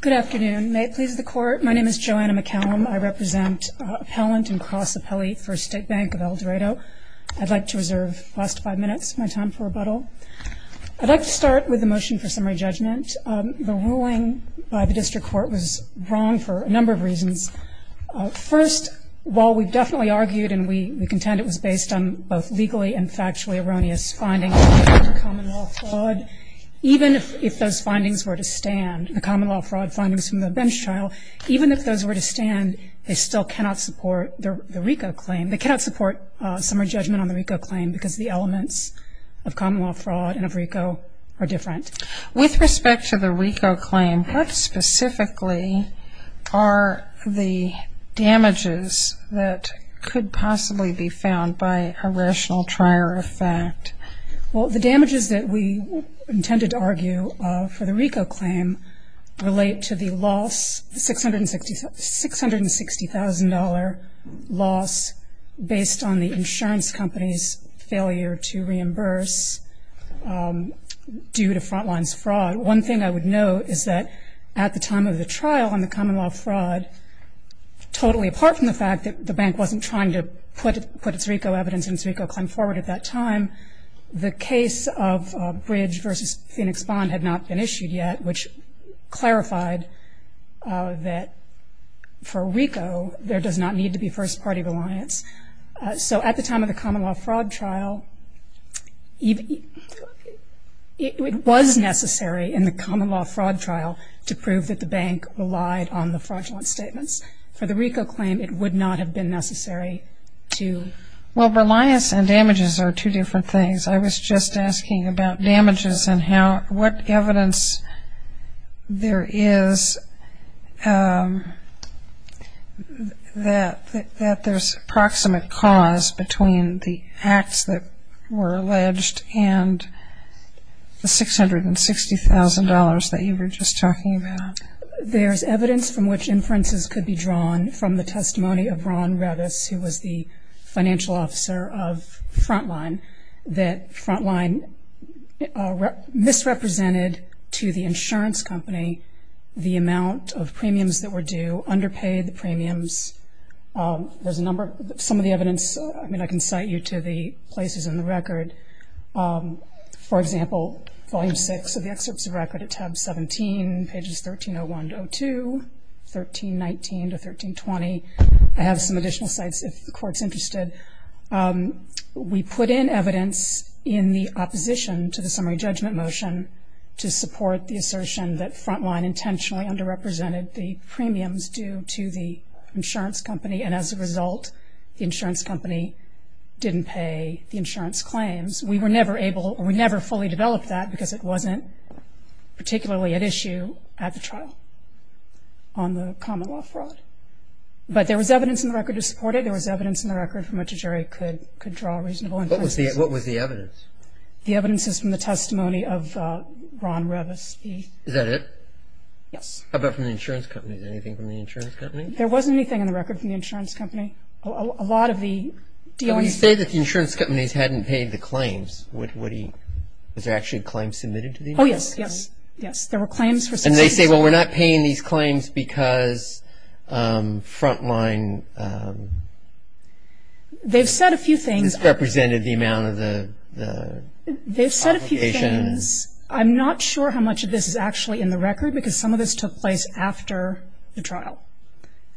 Good afternoon. May it please the Court, my name is Joanna McCallum. I represent appellant and cross-appellate First State Bank of Eldorado. I'd like to reserve the last five minutes of my time for rebuttal. I'd like to start with a motion for summary judgment. The ruling by the District Court was wrong for a number of reasons. First, while we've definitely argued and we contend it was based on both legally and factually erroneous findings of the common law fraud findings from the bench trial, even if those were to stand, they still cannot support the RICO claim. They cannot support summary judgment on the RICO claim because the elements of common law fraud and of RICO are different. With respect to the RICO claim, what specifically are the damages that could possibly be found by a rational trier of fact? Well, the damages that we intended to argue for the RICO claim relate to the loss, the $660,000 loss based on the insurance company's failure to reimburse due to Frontline's fraud. One thing I would note is that at the time of the trial on the common law fraud, totally apart from the fact that the bank wasn't trying to put its RICO evidence into RICO claim forward at that time, the case of Bridge v. Phoenix Bond had not been issued yet, which clarified that for RICO, there does not need to be first party reliance. So at the time of the common law fraud trial, it was necessary in the common law fraud trial to prove that the bank relied on the fraudulent statements. For the RICO claim, it would not have been necessary to... Well, reliance and damages are two different things. I was just asking about damages and what evidence there is that there's approximate cause between the acts that were alleged and the $660,000 that you were just talking about. There's evidence from which inferences could be drawn from the testimony of Ron Revis, who was the financial officer of Frontline, that Frontline misrepresented to the insurance company the amount of premiums that were due, underpaid the premiums. There's a number... Some of the evidence, I mean, I can cite you to the places in the record. For example, volume 6 of the excerpts of record at tab 17, pages 1301 to 102, 1319 to 1320. I have some additional sites if the court's interested. We put in evidence in the opposition to the summary judgment motion to support the assertion that Frontline intentionally underrepresented the premiums due to the insurance company, and as a result, the insurance company didn't pay the insurance claims. We were never able or we never fully developed that because it wasn't particularly at issue at the trial on the common law fraud. But there was evidence in the record to support it. There was evidence in the record from which a jury could draw a reasonable inference. What was the evidence? The evidence is from the testimony of Ron Revis. Is that it? Yes. How about from the insurance company? Is there anything from the insurance company? There wasn't anything in the record from the insurance company. A lot of the dealings... Well, you say that the insurance companies hadn't paid the claims. Was there actually a claim submitted to the insurance companies? Oh, yes. Yes. There were claims for... And they say, well, we're not paying these claims because Frontline... They've said a few things... ...represented the amount of the obligation. They've said a few things. I'm not sure how much of this is actually in the record because some of this took place after the trial,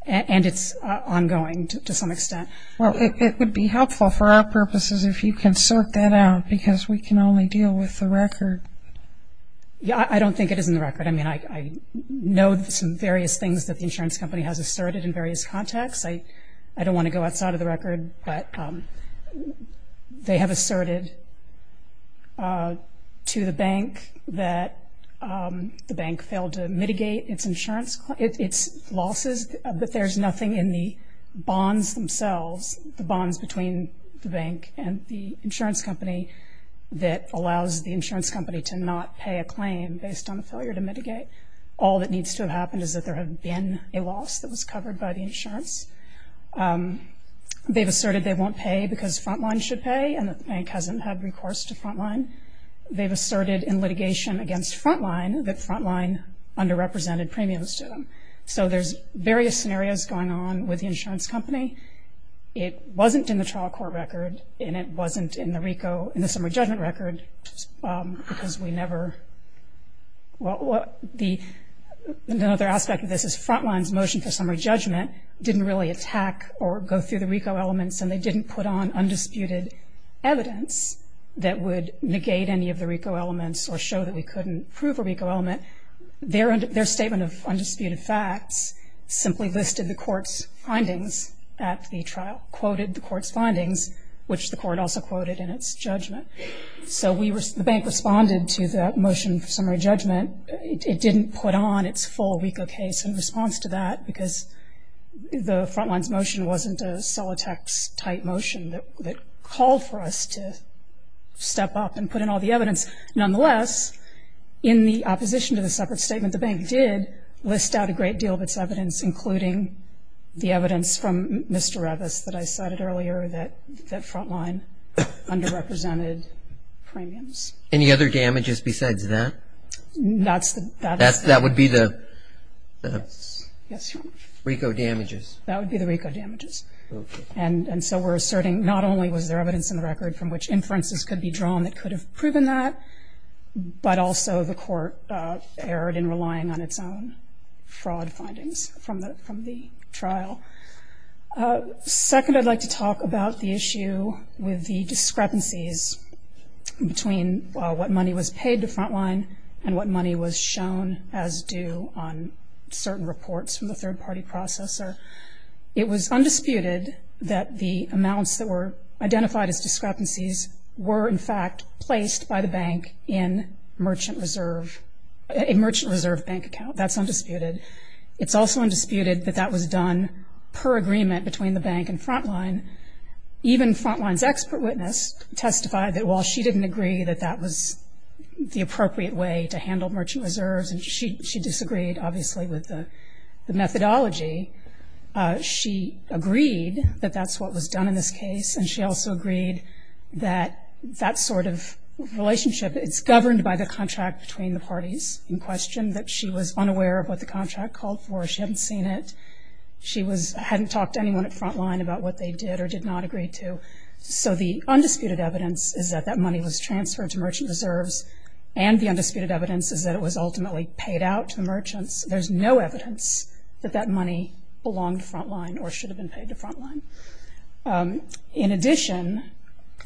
and it's ongoing to some extent. Well, it would be helpful for our purposes if you can sort that out because we can only deal with the record. Yeah, I don't think it is in the record. I mean, I know some various things that the insurance company has asserted in various contexts. I don't want to go outside of the record, but they have asserted to the bank that the bank failed to mitigate its losses, but there's nothing in the bonds themselves, the bonds between the bank and the insurance company, that allows the insurance company to not pay a claim based on a failure to mitigate. All that needs to have happened is that there had been a loss that was covered by the insurance. They've asserted they won't pay because Frontline should pay and that the bank hasn't had recourse to Frontline. They've asserted in litigation against Frontline that Frontline underrepresented premiums to So there's various scenarios going on with the insurance company. It wasn't in the trial court record, and it wasn't in the RICO, in the summary judgment record, because we never – well, the – another aspect of this is Frontline's motion for summary judgment didn't really attack or go through the RICO elements, and they didn't put on undisputed evidence that would negate any of the RICO elements or show that we couldn't prove a undisputed facts, simply listed the court's findings at the trial, quoted the court's findings, which the court also quoted in its judgment. So we were – the bank responded to the motion for summary judgment. It didn't put on its full RICO case in response to that because the Frontline's motion wasn't a Solitex-type motion that called for us to step up and put in all the evidence. Nonetheless, in the opposition to the separate statement, the bank did list out a great deal of its evidence, including the evidence from Mr. Revis that I cited earlier that Frontline underrepresented premiums. Any other damages besides that? That's the – That would be the – Yes. Yes. RICO damages. That would be the RICO damages. Okay. And so we're asserting not only was there evidence in the record from which inferences could be drawn that could have proven that, but also the court erred in relying on its own fraud findings from the – from the trial. Second I'd like to talk about the issue with the discrepancies between what money was paid to Frontline and what money was shown as due on certain reports from the third-party processor. It was undisputed that the amounts that were identified as discrepancies were, in fact, placed by the bank in Merchant Reserve – a Merchant Reserve bank account. That's undisputed. It's also undisputed that that was done per agreement between the bank and Frontline. Even Frontline's expert witness testified that while she didn't agree that that was the appropriate way to handle Merchant Reserves, and she – she disagreed, obviously, with the – the methodology, she agreed that that's what was done in this case, and she also agreed that that sort of relationship, it's governed by the contract between the parties in question, that she was unaware of what the contract called for. She hadn't seen it. She was – hadn't talked to anyone at Frontline about what they did or did not agree to. So the undisputed evidence is that that money was transferred to Merchant Reserves, and the undisputed evidence is that it was ultimately paid out to the merchants. There's no evidence that that money belonged to Frontline or should have been paid to Frontline. In addition,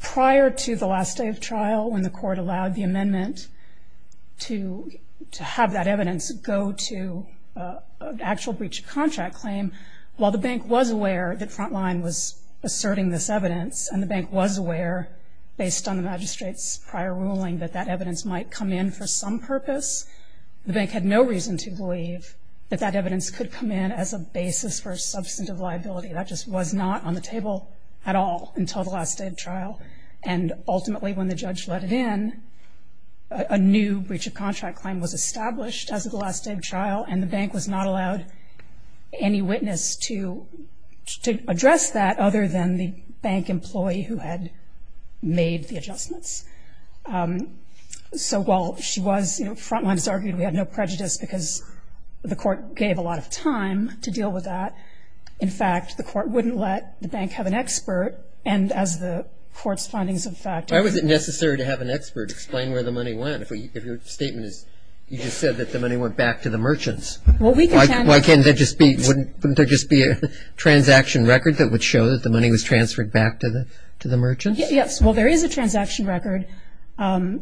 prior to the last day of trial, when the court allowed the amendment to – to have that evidence go to an actual breach of contract claim, while the bank was aware that Frontline was asserting this evidence, and the bank was aware, based on the magistrate's prior ruling, that that evidence might come in for some purpose, the bank had no reason to believe that that evidence could come in as a basis for substantive liability. That just was not on the table at all until the last day of trial. And ultimately, when the judge let it in, a new breach of contract claim was established as of the last day of trial, and the bank was not allowed any witness to – to address that other than the bank employee who had made the adjustments. So while she was – you know, Frontline has had no prejudice because the court gave a lot of time to deal with that. In fact, the court wouldn't let the bank have an expert, and as the court's findings of fact – Why was it necessary to have an expert explain where the money went if we – if your statement is – you just said that the money went back to the merchants? Well, we can – Why – why can't there just be – wouldn't – wouldn't there just be a transaction record that would show that the money was transferred back to the – to the merchants? Yes. Well, there is a transaction record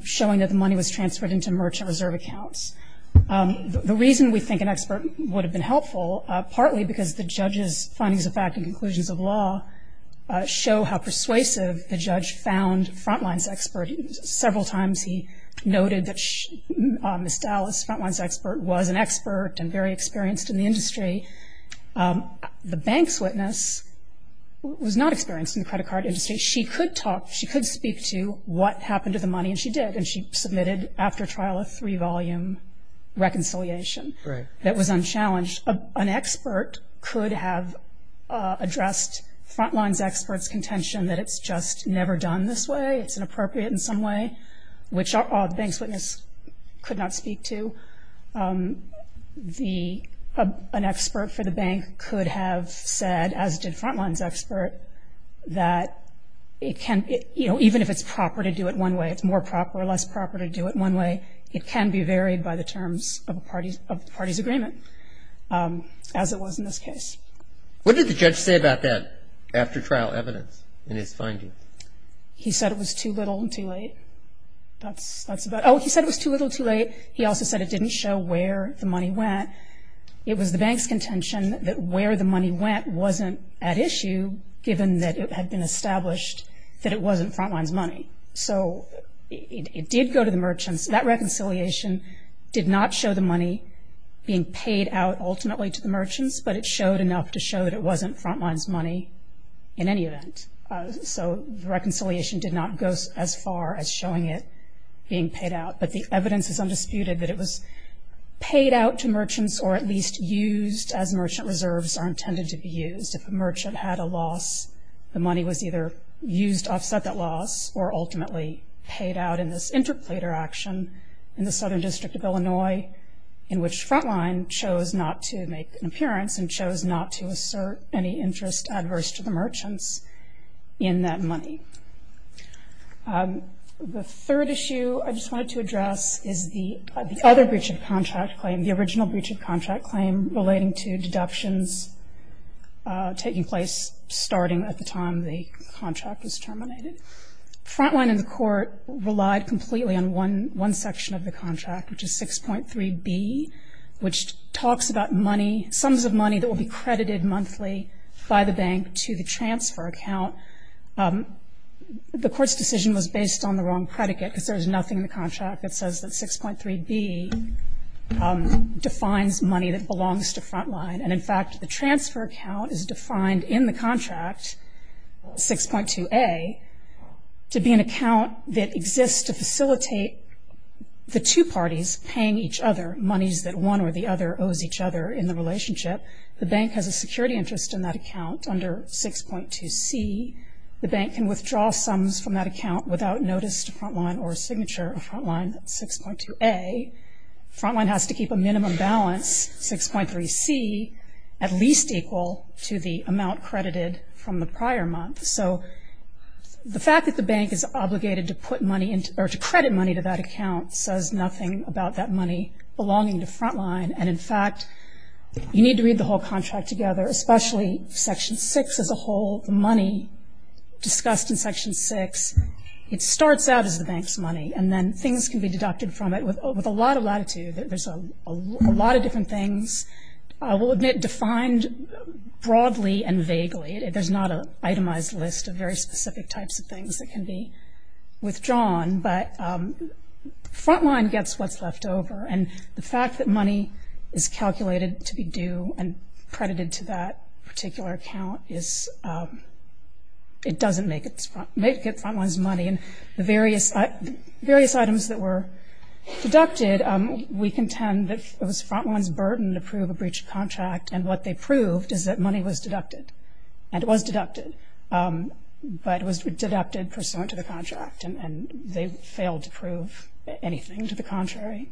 showing that the money was transferred into merchant reserve accounts. The reason we think an expert would have been helpful, partly because the judge's findings of fact and conclusions of law show how persuasive the judge found Frontline's expert. Several times he noted that Ms. Dallas, Frontline's expert, was an expert and very experienced in the industry. The bank's witness was not experienced in the credit card industry. She could talk – she could speak to what happened to the money, and she did, and she submitted, after trial, a three-volume reconciliation that was unchallenged. An expert could have addressed Frontline's expert's contention that it's just never done this way, it's inappropriate in some way, which the bank's witness could not speak to. The – an expert for the bank could have said, as did Frontline's expert, that it can – you know, even if it's proper to do it one way, it's more proper or less proper to do it one way, it can be varied by the terms of a party's – of the party's agreement, as it was in this case. What did the judge say about that after-trial evidence in his findings? He said it was too little and too late. That's about – oh, he said it was too little and too late. He also said it didn't show where the money went. It was the bank's contention that where the money went wasn't at issue, given that it had been established that it wasn't Frontline's money. So it did go to the merchants. That reconciliation did not show the money being paid out ultimately to the merchants, but it showed enough to show that it wasn't Frontline's money in any event. So the reconciliation did not go as far as showing it being paid out. But the evidence is undisputed that it was paid out to merchants or at least used as merchant reserves are intended to be used. If a merchant had a loss, the money was either used to offset that loss or ultimately paid out in this interplater action in the Southern District of Illinois, in which Frontline chose not to make an appearance and chose not to assert any interest adverse to the merchants in that money. The third issue I just wanted to address is the other breach of contract claim, the original breach of contract claim relating to deductions taking place starting at the time the contract was terminated. Frontline and the court relied completely on one section of the contract, which is 6.3b, which talks about money – sums of money that will be credited monthly by the bank to the transfer account. The court's decision was based on the wrong predicate because there's nothing in the contract that says that 6.3b defines money that belongs to Frontline. And in fact, the transfer account is defined in the contract, 6.2a, to be an account that exists to facilitate the two parties paying each other monies that one or the other owes each other in the relationship. The bank has a security interest in that account under 6.2c. The bank can withdraw sums from that account without notice to Frontline or signature of Frontline, 6.2a. Frontline has to keep a minimum balance, 6.3c, at least equal to the amount credited from the prior month. So the fact that the bank is obligated to put money into – or to credit money to that account says nothing about that money belonging to Frontline. And in fact, you need to read the whole contract together, especially Section 6 as a whole, the money discussed in Section 6. It starts out as the bank's money, and then things can be deducted from it with a lot of latitude. There's a lot of different things, I will admit, defined broadly and vaguely. There's not an itemized list of very specific types of things that can be withdrawn. But Frontline gets what's in that particular account. It doesn't make it Frontline's money. And the various items that were deducted, we contend that it was Frontline's burden to prove a breached contract, and what they proved is that money was deducted. And it was deducted, but it was deducted pursuant to the contract, and they failed to prove anything to the contrary.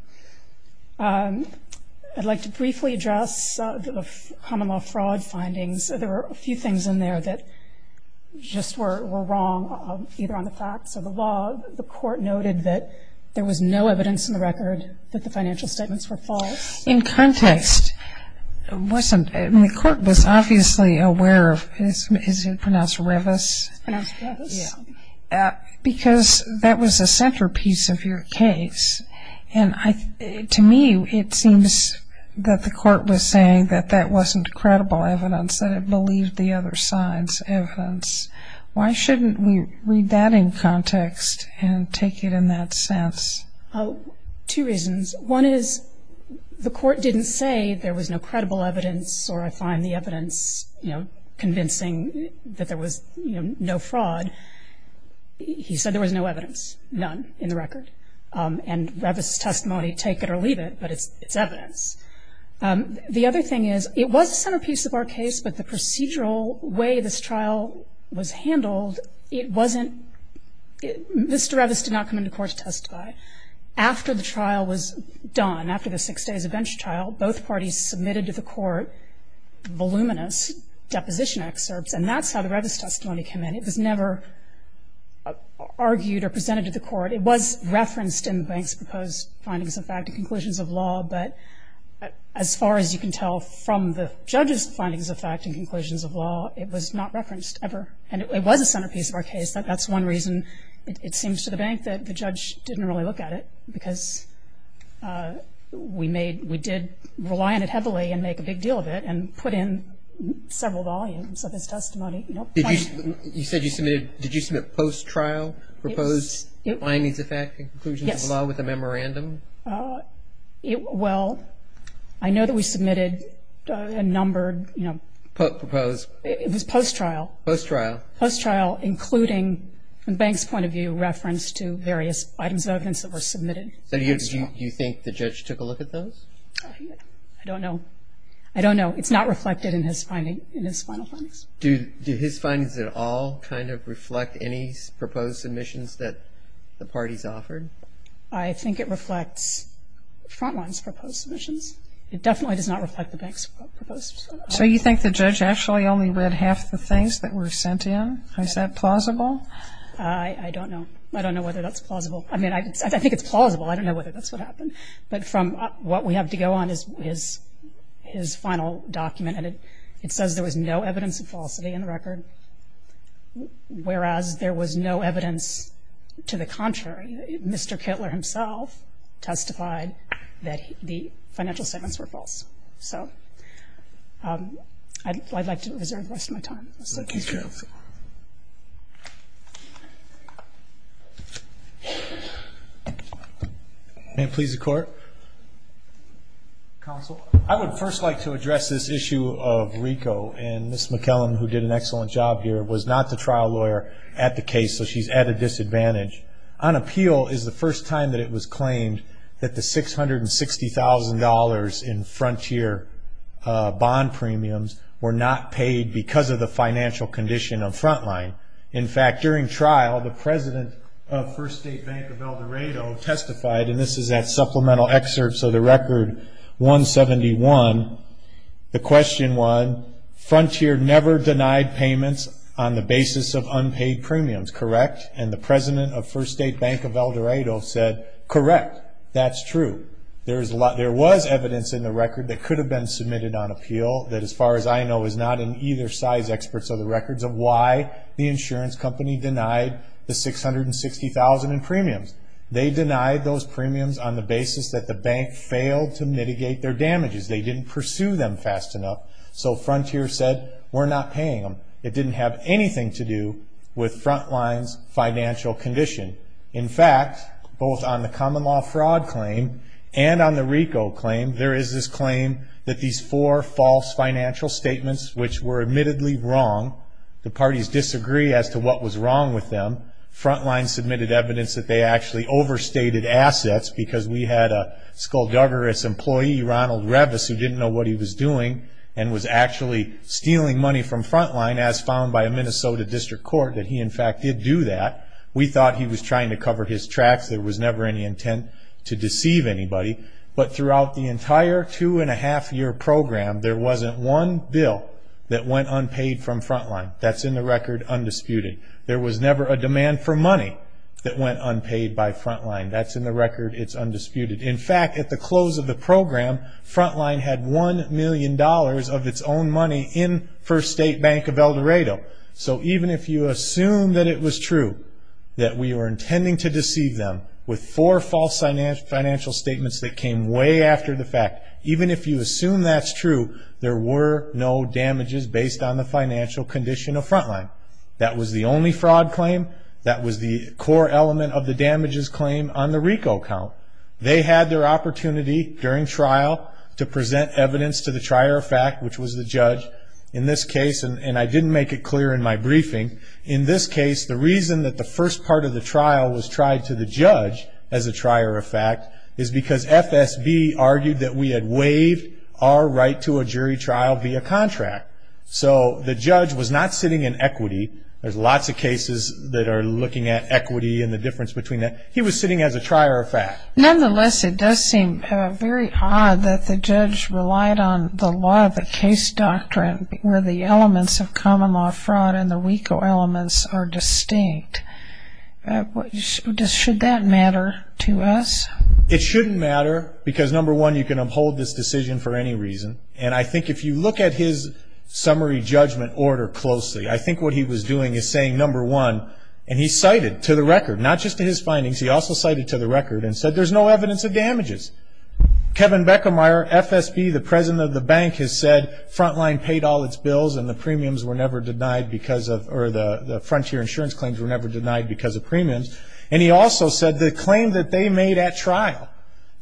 I'd like to briefly address the common law fraud findings. There were a few things in there that just were wrong, either on the facts or the law. The court noted that there was no evidence in the record that the financial statements were false. In context, it wasn't. The court was obviously aware of – is it pronounced Revis? It's pronounced Revis. Yeah. Because that was a centerpiece of your case. And to me, it seems that the court was saying that that wasn't credible evidence, that it believed the other side's evidence. Why shouldn't we read that in context and take it in that sense? Two reasons. One is the court didn't say there was no credible evidence, or I find the evidence convincing that there was no fraud. He said there was no evidence, none in the record. And Revis' testimony, take it or leave it, but it's evidence. The other thing is, it was a centerpiece of our case, but the procedural way this trial was handled, it wasn't – Mr. Revis did not come into court to testify. After the trial was done, after the six days of bench trial, both parties submitted to the court voluminous deposition excerpts, and that's how the Revis testimony came in. It was never argued or presented to the court. It was referenced in the bank's proposed findings of fact and conclusions of law, but as far as you can tell from the judge's findings of fact and conclusions of law, it was not referenced ever. And it was a centerpiece of our case. That's one reason it seems to the bank that the judge didn't really look at it, because we made – we did rely on it heavily and make a big deal of it, and put in several volumes of his testimony. You said you submitted – did you submit post-trial proposed findings of fact and conclusions of law with a memorandum? Yes. Well, I know that we submitted a numbered, you know – Proposed. It was post-trial. Post-trial. Post-trial, including, from the bank's point of view, reference to various items of evidence that were submitted. So do you think the judge took a look at those? I don't know. I don't know. It's not reflected in his finding – in his final findings. Do his findings at all kind of reflect any proposed submissions that the parties offered? I think it reflects Frontline's proposed submissions. It definitely does not reflect the bank's proposed submissions. So you think the judge actually only read half the things that were sent in? Is that plausible? I don't know. I don't know whether that's plausible. I mean, I think it's plausible. I don't know whether that's what happened. But from what we have to go on is his final document, and it says there was no evidence of falsity in the record, whereas there was no evidence to the contrary. Mr. Kittler himself testified that the financial statements were false. So I'd like to reserve the rest of my time. Thank you, counsel. May it please the Court? Counsel. I would first like to address this issue of RICO. And Ms. McKellan, who did an excellent job here, was not the trial lawyer at the case, so she's at a disadvantage. On appeal is the first time that it was claimed that the $660,000 in Frontier bond premiums were not paid because of the financial condition of Frontline. In fact, during trial, the president of First State Bank of El Dorado testified, and this is at supplemental excerpts of the record 171, the question was, Frontier never denied payments on the basis of unpaid premiums, correct? And the president of First State Bank of El Dorado said, correct, that's true. There was evidence in the record that could have been submitted on appeal that, as far as I know, is not in either side's experts of the records of why the insurance company denied the $660,000 in premiums. They denied those premiums on the basis that the bank failed to mitigate their damages. They didn't pursue them fast enough. So Frontier said, we're not paying them. It didn't have anything to do with Frontline's financial condition. In fact, both on the common law fraud claim and on the RICO claim, there is this claim that these four false financial statements, which were admittedly wrong, the parties disagree as to what was wrong with them, Frontline submitted evidence that they actually overstated assets because we had a skullduggerous employee, Ronald Revis, who didn't know what he was doing and was actually stealing money from Frontline, as found by a Minnesota district court, that he in fact did do that. We thought he was trying to cover his tracks. There was never any intent to deceive anybody. But throughout the entire two-and-a-half-year program, there wasn't one bill that went unpaid from Frontline. That's in the record undisputed. There was never a demand for money that went unpaid by Frontline. That's in the record. It's undisputed. In fact, at the close of the program, Frontline had one million dollars of its own money in First State Bank of El Dorado. So even if you assume that it was true that we were intending to deceive them with four false financial statements that came way after the fact, even if you assume that's true, there were no damages based on the financial condition of Frontline. That was the only fraud claim. That was the core element of the damages claim on the RICO count. They had their opportunity during trial to present evidence to the trier of fact, which was the judge. In this case, and I didn't make it clear in my briefing, in this case the reason that the first part of the trial was tried to the judge as a trier of fact is because FSB argued that we had waived our right to a jury trial via contract. So the judge was not sitting in equity. There's lots of cases that are looking at equity and the difference between that. He was sitting as a trier of fact. Nonetheless, it does seem very odd that the judge relied on the law of the case doctrine where the elements of common law fraud and the RICO elements are distinct. Should that matter to us? It shouldn't matter because, number one, you can uphold this decision for any reason. And I think if you look at his summary judgment order closely, I think what he was doing is saying, number one, and he cited to the record, not just to his findings, he also cited to the record and said there's no evidence of damages. Kevin Beckemeyer, FSB, the president of the bank, has said Frontline paid all its bills and the premiums were never denied because of, or the Frontier insurance claims were never denied because of premiums. And he also said the claim that they made at trial,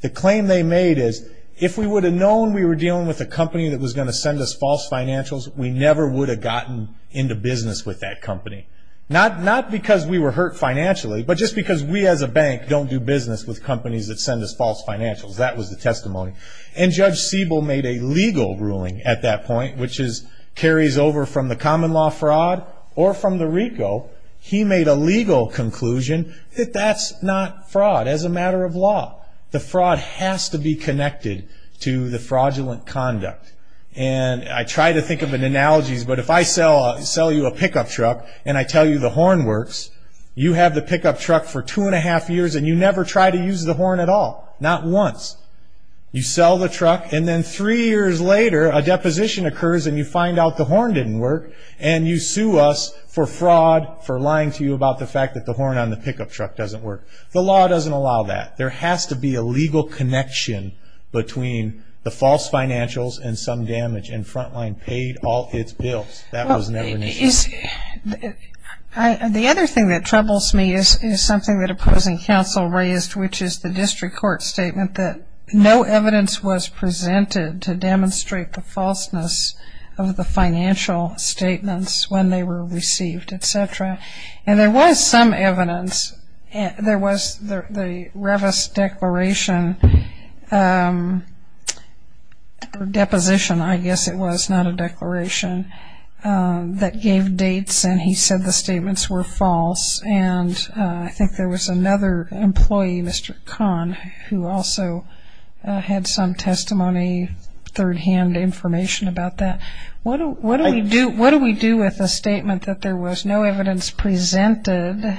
the claim they made is if we would have known we were dealing with a company that was going to send us false financials, we never would have gotten into business with that company. Not because we were hurt financially, but just because we as a bank don't do business with companies that send us false financials. That was the testimony. And Judge Siebel made a legal ruling at that point, which carries over from the common law fraud or from the RICO. He made a legal conclusion that that's not fraud as a matter of law. The fraud has to be connected to the fraudulent conduct. I try to think of analogies, but if I sell you a pickup truck and I tell you the horn works, you have the pickup truck for two and a half years and you never try to use the horn at all. Not once. You sell the truck and then three years later a deposition occurs and you find out the horn didn't work and you sue us for fraud for lying to you about the fact that the horn on the pickup truck doesn't work. The law doesn't allow that. There has to be a legal connection between the false financials and some damage. And Frontline paid all its bills. That was never an issue. The other thing that troubles me is something that opposing counsel raised, which is the district court statement that no evidence was presented to demonstrate the falseness of the financial statements when they were received, etc. And there was some evidence. There was the Revis declaration or deposition, I guess it was, not a declaration, that gave dates and he said the statements were false. And I think there was another employee, Mr. Kahn, who also had some testimony, third-hand information about that. What do we do with a statement that there was no evidence presented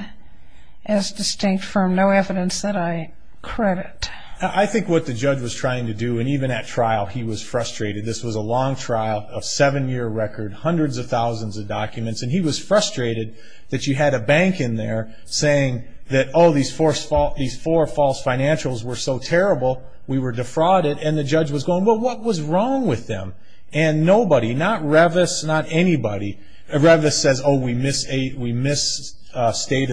as distinct from no evidence that I credit? I think what the judge was trying to do, and even at trial he was frustrated, this was a long trial, a seven-year record, hundreds of thousands of documents, and he was frustrated that you had a bank in there saying that, oh, these four false financials were so terrible we were defrauded. And the judge was going, well, what was wrong with them? And nobody, not Revis, not anybody, Revis says, oh, we misstated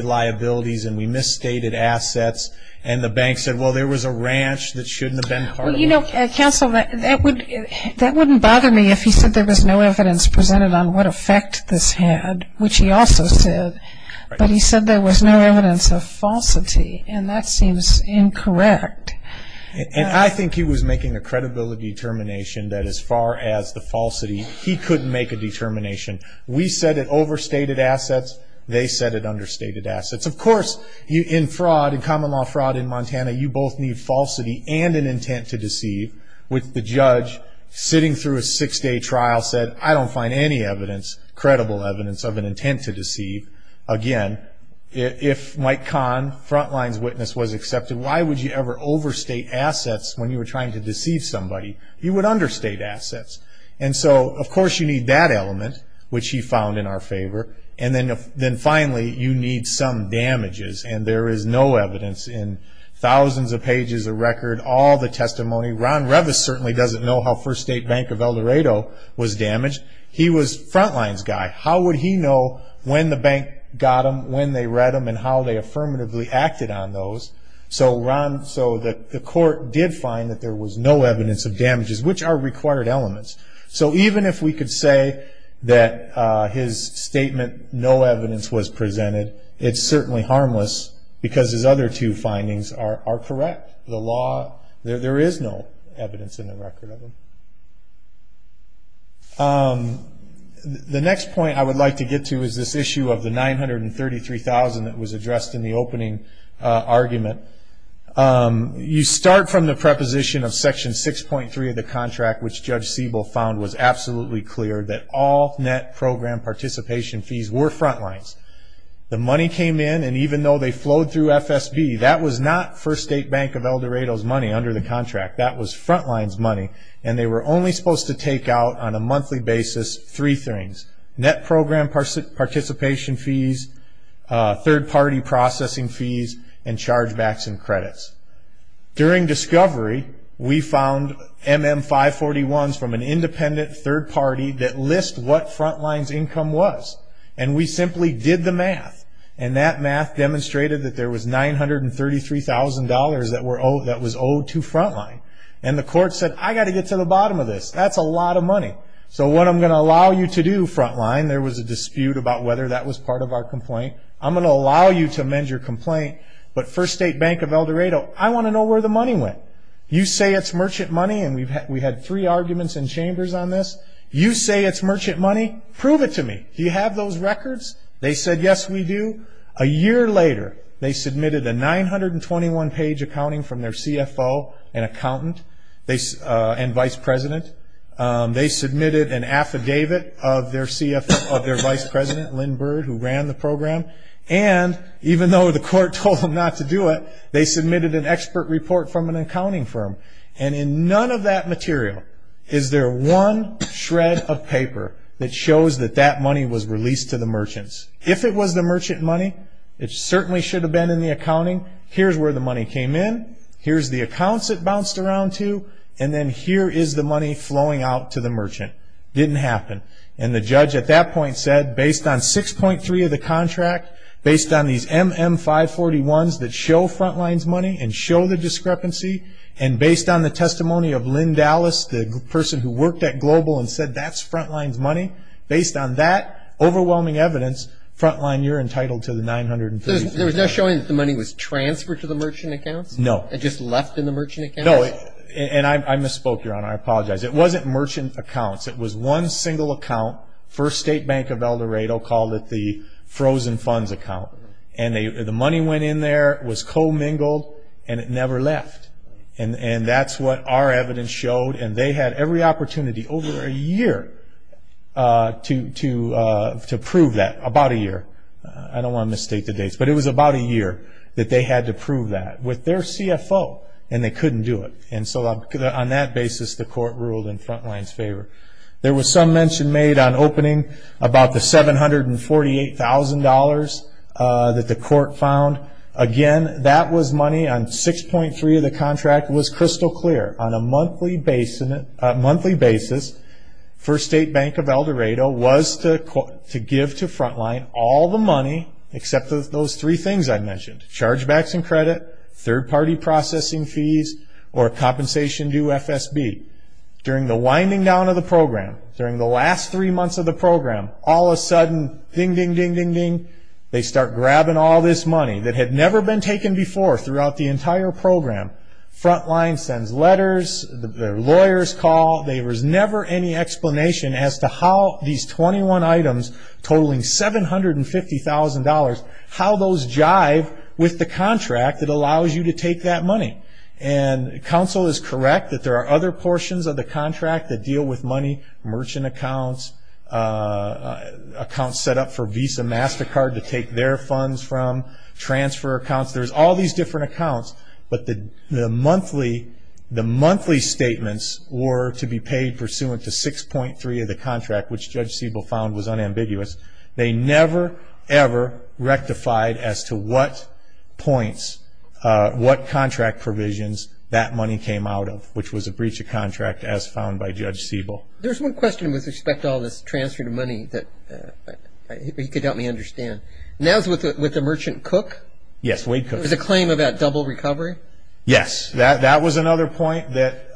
liabilities and we misstated assets and the bank said, well, there was a ranch that shouldn't have been part of it. Well, you know, counsel, that wouldn't bother me if he said there was no evidence presented on what effect this had, which he also said, but he said there was no evidence of falsity and that seems incorrect. And I think he was making a credibility determination that as far as the falsity, he couldn't make a determination. We said it overstated assets, they said it understated assets. Of course, in fraud, in common law fraud in Montana, you both need falsity and an intent to deceive, which the judge, sitting through a six-day trial, said, I don't find any evidence, credible evidence, of an intent to deceive. Again, if Mike Kahn, Frontline's witness, was accepted, why would you ever overstate assets when you were trying to deceive somebody? You would understate assets. And so, of course, you need that element, which he found in our favor, and then finally, you need some damages and there is no evidence in thousands of pages of record, all the testimony. Ron Revis certainly doesn't know how First State Bank of El Dorado was damaged. He was Frontline's guy. How would he know when the bank got them, when they read them, and how they affirmatively acted on those? So the court did find that there was no evidence of damages, which are required elements. So even if we could say that his statement, no evidence was presented, it's certainly harmless because his other two findings are correct. The law, there is no evidence in the record of them. The next point I would like to get to is this issue of the $933,000 that was addressed in the opening argument. You start from the preposition of Section 6.3 of the contract, which Judge Siebel found was absolutely clear, that all net program participation fees were Frontline's. The money came in, and even though they flowed through FSB, that was not First State Bank of El Dorado. They were only supposed to take out on a monthly basis three things, net program participation fees, third party processing fees, and chargebacks and credits. During discovery, we found MM541s from an independent third party that list what Frontline's income was, and we simply did the math, and that math demonstrated that there was $933,000 that was owed to Frontline. And the court said, I've got to get to the bottom of this. That's a lot of money. So what I'm going to allow you to do, Frontline, there was a dispute about whether that was part of our complaint, I'm going to allow you to amend your complaint, but First State Bank of El Dorado, I want to know where the money went. You say it's merchant money, and we had three arguments in chambers on this. You say it's merchant money, prove it to me. Do you have those an accountant and vice president. They submitted an affidavit of their vice president, Lynn Byrd, who ran the program, and even though the court told them not to do it, they submitted an expert report from an accounting firm. And in none of that material is there one shred of paper that shows that that money was released to the merchants. If it was the merchant money, it bounced around to, and then here is the money flowing out to the merchant. It didn't happen. And the judge at that point said, based on 6.3 of the contract, based on these MM541s that show Frontline's money and show the discrepancy, and based on the testimony of Lynn Dallas, the person who worked at Global and said that's Frontline's money, based on that overwhelming evidence, Frontline, you're entitled to the $933,000. There was no showing that the money was transferred to the merchant accounts? No. It just left in the merchant accounts? No. And I misspoke, Your Honor. I apologize. It wasn't merchant accounts. It was one single account. First State Bank of El Dorado called it the frozen funds account. And the money went in there, it was co-mingled, and it never left. And that's what our evidence showed. And they had every opportunity over a year to prove that. About a year. I don't want to And they couldn't do it. And so on that basis, the court ruled in Frontline's favor. There was some mention made on opening about the $748,000 that the court found. Again, that was money on 6.3 of the contract was crystal clear. On a monthly basis, First State Bank of El Dorado was to give to Frontline all the money, except for those three things I mentioned. Chargebacks and credit, third party processing fees, or compensation due FSB. During the winding down of the program, during the last three months of the program, all of a sudden, ding, ding, ding, ding, ding, they start grabbing all this money that had never been taken before throughout the entire program. Frontline sends letters, lawyers call. There was never any explanation as to how these 21 items totaling $750,000, how those jive with the contract that allows you to take that money. And counsel is correct that there are other portions of the contract that deal with money, merchant accounts, accounts set up for Visa MasterCard to take their funds from, transfer accounts. There's all these different accounts, but the monthly statements were to be paid pursuant to 6.3 of the contract, which Judge Siebel found was unambiguous. They never, ever rectified as to what points, what contract provisions that money came out of, which was a breach of contract as found by Judge Siebel. There's one question with respect to all this transfer to money that he could help me understand. And that was with the merchant cook? Yes, Wade Cook. It was a claim about double recovery? Yes, that was another point that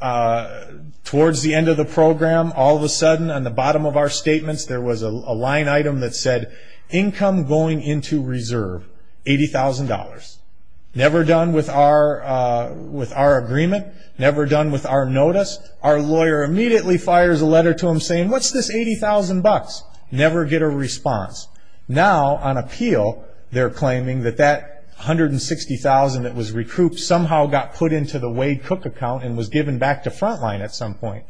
towards the end of the program, all of a sudden on the bottom of our statements, there was a line item that said, income going into reserve, $80,000. Never done with our agreement, never done with our notice. Our lawyer immediately fires a letter to him saying, what's this $80,000? Never get a response. Now on appeal, they're claiming that that $160,000 that was recouped somehow got put into the Wade Cook account and was given back to Frontline at some point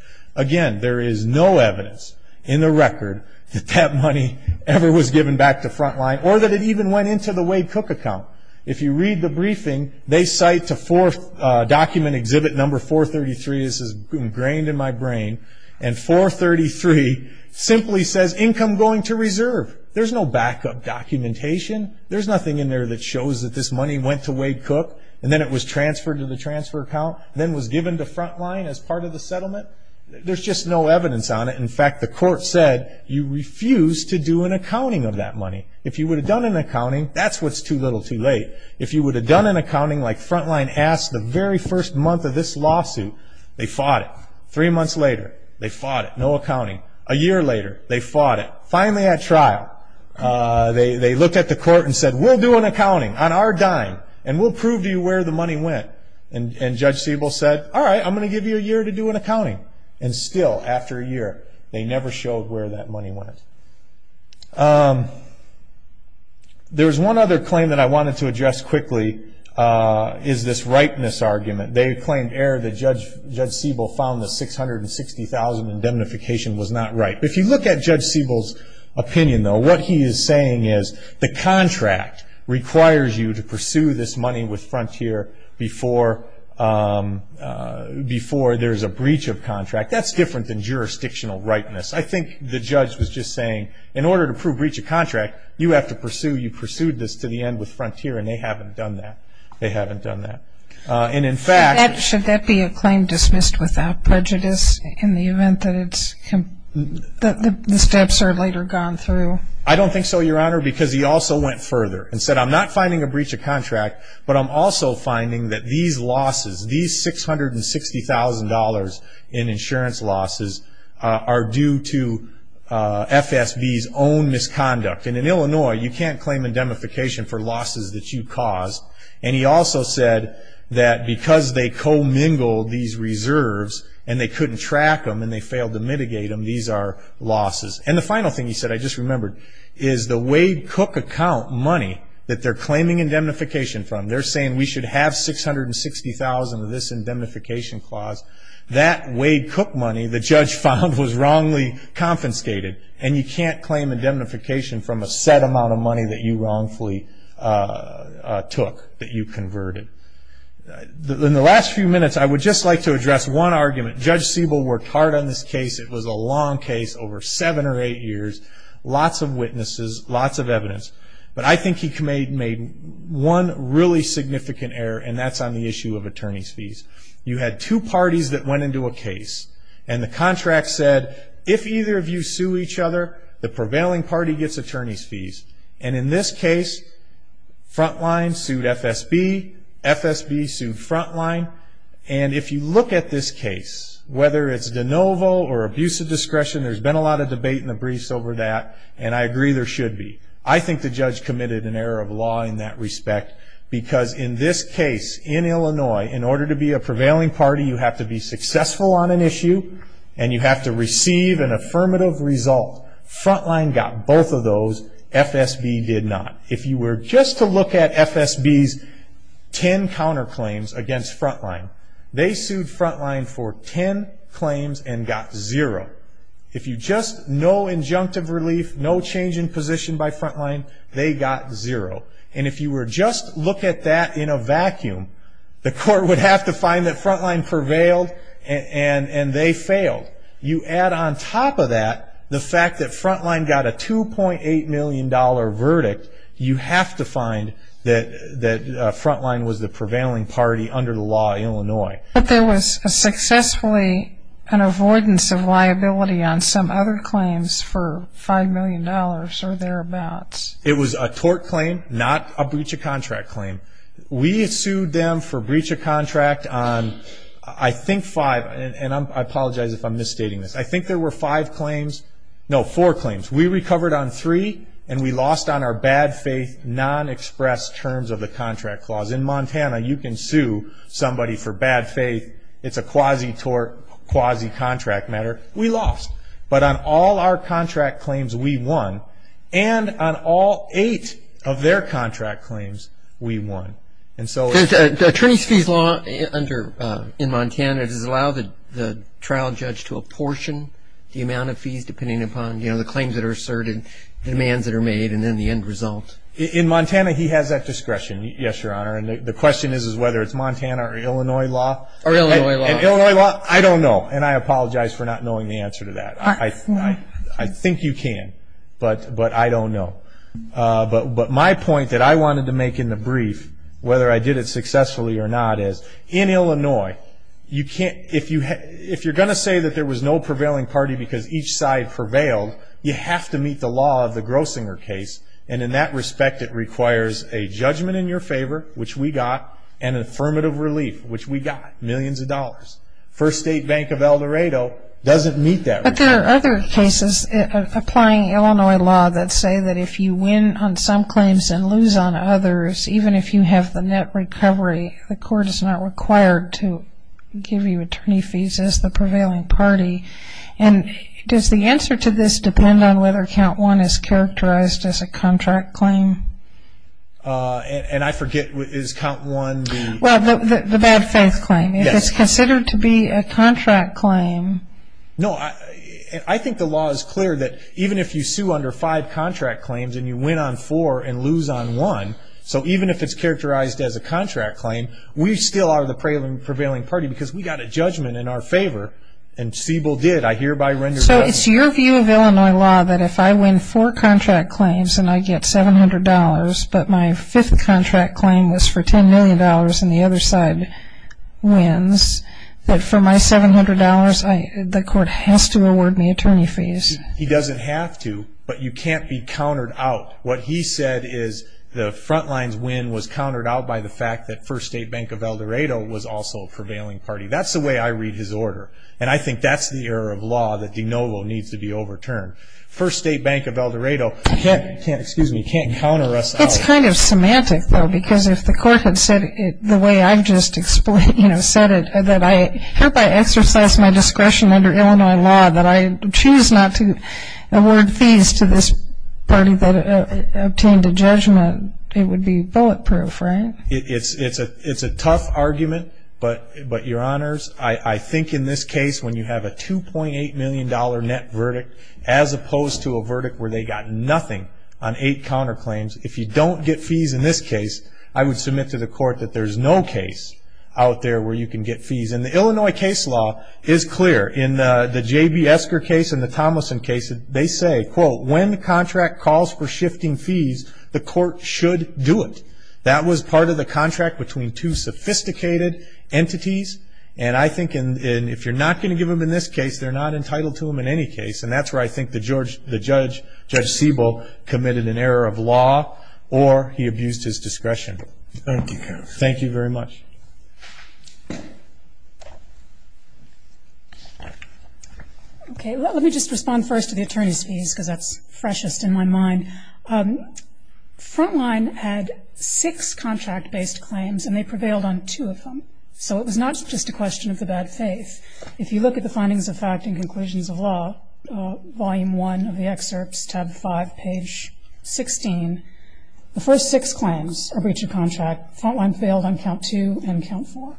in the record that that money ever was given back to Frontline or that it even went into the Wade Cook account. If you read the briefing, they cite to document exhibit number 433, this is ingrained in my brain, and 433 simply says income going to reserve. There's no backup documentation. There's nothing in there that shows that this money went to Wade Cook and then it was transferred to the transfer account and then was given to Frontline as part of the settlement. There's just no evidence on it. In fact, the court said you refused to do an accounting of that money. If you would have done an accounting, that's what's too little too late. If you would have done an accounting like Frontline asked the very first month of this lawsuit, they fought it. Three months later, they fought it. No accounting. A year later, they fought it. Finally at trial, they looked at the court and said, we'll do an accounting on our dime and we'll prove to you where the money went. And Judge Siebel said, all right, I'm going to give you a year to do an accounting. And still, after a year, they never showed where that money went. There's one other claim that I wanted to address quickly is this rightness argument. They claimed error that Judge Siebel found the $660,000 indemnification was not right. If you look at Judge Siebel's opinion, though, what he is saying is the contract requires you to pursue this money with Frontier before there's a breach of contract. That's different than jurisdictional rightness. I think the judge was just saying, in order to prove breach of contract, you have to pursue, you pursued this to the end with Frontier, and they haven't done that. They haven't done that. Should that be a claim dismissed without prejudice in the event that the steps are later gone through? I don't think so, Your Honor, because he also went further and said, I'm not finding a breach of contract, but I'm also finding that these losses, these $660,000 in insurance losses are due to FSB's own misconduct. And in Illinois, you can't claim indemnification for losses that you caused. And he also said that because they co-mingled these reserves and they couldn't track them and they failed to mitigate them, these are losses. And the final thing he said, I just remembered, is the Wade Cook account money that they're claiming indemnification from, they're saying we should have $660,000 of this indemnification clause. That Wade Cook money, the judge found, was wrongly confiscated, and you can't claim indemnification from a set amount of money that you wrongfully took, that you converted. In the last few minutes, I would just like to address one argument. Judge lots of witnesses, lots of evidence. But I think he made one really significant error, and that's on the issue of attorney's fees. You had two parties that went into a case, and the contract said, if either of you sue each other, the prevailing party gets attorney's fees. And in this case, Frontline sued FSB, FSB sued Frontline. And if you look at this case, whether it's de novo or abuse of discretion, there's been a lot of debate in the briefs over that, and I agree there should be. I think the judge committed an error of law in that respect, because in this case, in Illinois, in order to be a prevailing party, you have to be successful on an issue, and you have to receive an affirmative result. Frontline got both of those, FSB did not. If you were just to look at FSB's 10 counterclaims against Frontline, they sued Frontline for 10 claims and got zero. If you just, no injunctive relief, no change in position by Frontline, they got zero. And if you were just to look at that in a vacuum, the court would have to find that Frontline prevailed, and they failed. You add on top of that, the fact that Frontline got a $2.8 million verdict, you have to find that Frontline was the prevailing party under the law in Illinois. But there was successfully an avoidance of liability on some other claims for $5 million or thereabouts. It was a tort claim, not a breach of contract claim. We sued them for breach of contract on, I think, five, and I apologize if I'm misstating this. I think there were five claims, no, four claims. We recovered on three, and we lost on our bad faith, non-expressed terms of the contract clause. In Montana, you can see on our bad faith, it's a quasi-tort, quasi-contract matter. We lost. But on all our contract claims, we won. And on all eight of their contract claims, we won. The attorney's fees law in Montana, does it allow the trial judge to apportion the amount of fees depending upon the claims that are asserted, the demands that are made, and then the end result? In Montana, he has that discretion, yes, Your Honor. And the question is whether it's Montana or Illinois law. Or Illinois law. Illinois law, I don't know. And I apologize for not knowing the answer to that. I think you can, but I don't know. But my point that I wanted to make in the brief, whether I did it successfully or not, is in Illinois, if you're going to say that there was no prevailing party because each side prevailed, you have to meet the law of the Grossinger case. And in that respect, it requires a affirmative relief, which we got, millions of dollars. First State Bank of El Dorado doesn't meet that. But there are other cases applying Illinois law that say that if you win on some claims and lose on others, even if you have the net recovery, the court is not required to give you attorney fees as the prevailing party. And does the answer to this depend on whether count one is characterized as a contract claim? And I forget, is count one the... Well, the bad faith claim. Yes. If it's considered to be a contract claim. No, I think the law is clear that even if you sue under five contract claims and you win on four and lose on one, so even if it's characterized as a contract claim, we still are the prevailing party because we got a judgment in our favor. And Siebel did. I hereby render... So it's your view of Illinois law that if I win four contract claims and I get $700, but my fifth contract claim was for $10 million and the other side wins, that for my $700, the court has to award me attorney fees? He doesn't have to, but you can't be countered out. What he said is the front line's win was countered out by the fact that First State Bank of El Dorado was also a prevailing party. That's the way I read his order. And I First State Bank of El Dorado, you can't counter us out. It's kind of semantic, though, because if the court had said it the way I've just said it, that I hereby exercise my discretion under Illinois law that I choose not to award fees to this party that obtained a judgment, it would be bulletproof, right? It's a tough argument, but, Your Honors, I think in this case when you have a $2.8 million net verdict as opposed to a verdict where they got nothing on eight counterclaims, if you don't get fees in this case, I would submit to the court that there's no case out there where you can get fees. And the Illinois case law is clear. In the J.B. Esker case and the Tomlinson case, they say, quote, when the contract calls for shifting fees, the court should do it. That was part of the contract between two sophisticated entities. And I think if you're not going to give them in this case, they're not entitled to them in any case. And that's where I think the judge, Judge Siebel, committed an error of law or he abused his discretion. Thank you. Thank you very much. Okay. Well, let me just respond first to the attorney's fees because that's freshest in my mind. Frontline had six contract-based claims, and they failed. So it was not just a question of the bad faith. If you look at the findings of fact and conclusions of law, Volume 1 of the excerpts, tab 5, page 16, the first six claims are breach of contract. Frontline failed on count 2 and count 4.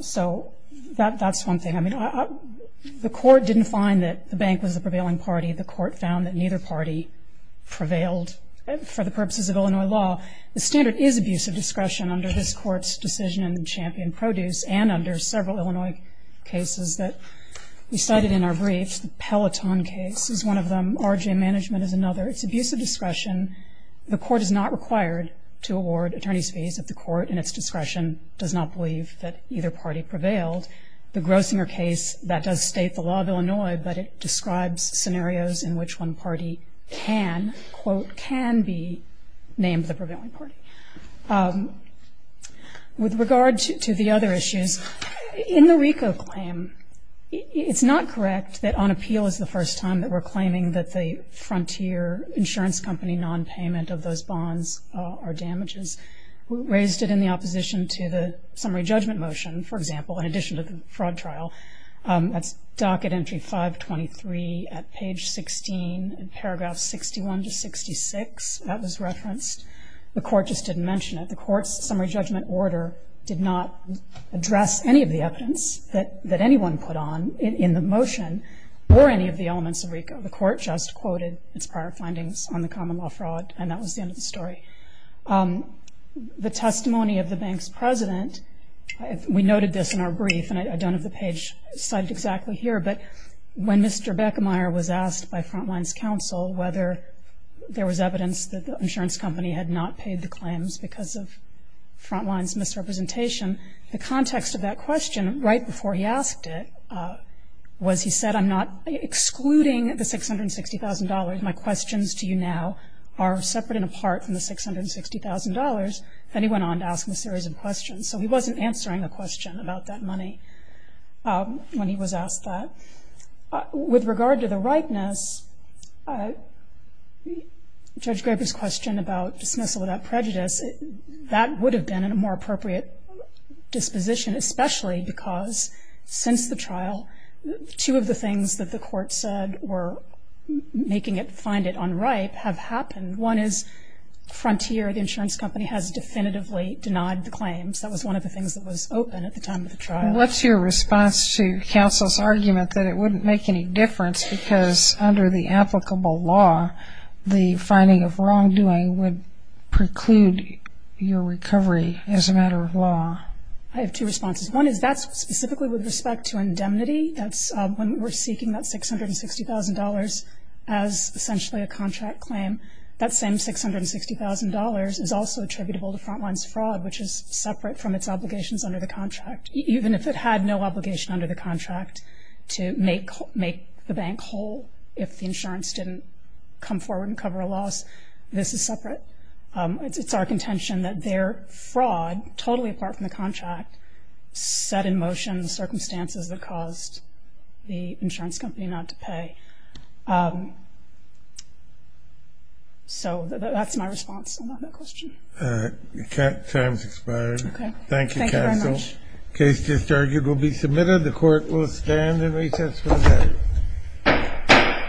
So that's one thing. I mean, the court didn't find that the bank was the prevailing party. The court found that neither party prevailed for the purposes of Illinois law. The standard is abuse of discretion under this and under several Illinois cases that we cited in our briefs. The Peloton case is one of them. R.J. Management is another. It's abuse of discretion. The court is not required to award attorney's fees if the court, in its discretion, does not believe that either party prevailed. The Grossinger case, that does state the law of Illinois, but it describes scenarios in which one party prevailed over the other party. With regard to the other issues, in the RICO claim, it's not correct that on appeal is the first time that we're claiming that the frontier insurance company nonpayment of those bonds are damages. We raised it in the opposition to the summary judgment motion, for example, in addition to the fraud trial. That's docket entry 523 at page 16, in paragraph 61 to 66. That was referenced. The court just didn't mention it. The court's summary judgment order did not address any of the evidence that anyone put on in the motion or any of the elements of RICO. The court just quoted its prior findings on the common law fraud, and that was the end of the story. The testimony of the bank's president, we noted this in our brief, and I don't know if the page cited exactly here, but when Mr. Beckemeyer was asked by Frontline's counsel whether there was evidence that the insurance company had not paid the claims because of Frontline's misrepresentation, the context of that question, right before he asked it, was he said, I'm not excluding the $660,000. My questions to you now are separate and apart from the $660,000. Then he went on to ask a series of questions. So he wasn't answering the question about that money when he was asked that. With regard to the ripeness, Judge Graber's question about dismissal without prejudice, that would have been a more appropriate disposition, especially because since the trial, two of the things that the court said were making it find it unripe have happened. One is Frontier, the insurance company has definitively denied the claims. That was one of the things that was open at the time of the trial. What's your response to counsel's argument that it wouldn't make any difference because under the applicable law, the finding of wrongdoing would preclude your recovery as a matter of law? I have two responses. One is that's specifically with respect to indemnity. That's when we're seeking that $660,000 as essentially a contract claim, that same $660,000 is also attributable to Frontline's fraud, which is separate from its obligations under the contract. Even if it had no obligation under the contract to make the bank whole if the insurance didn't come forward and cover a loss, this is separate. It's our contention that their fraud, totally apart from the contract, set in motion the circumstances that caused the insurance company not to pay. So that's my response on that question. Time's expired. Thank you, counsel. Thank you very much. Case disargued will be submitted. The court will stand and recess for the day.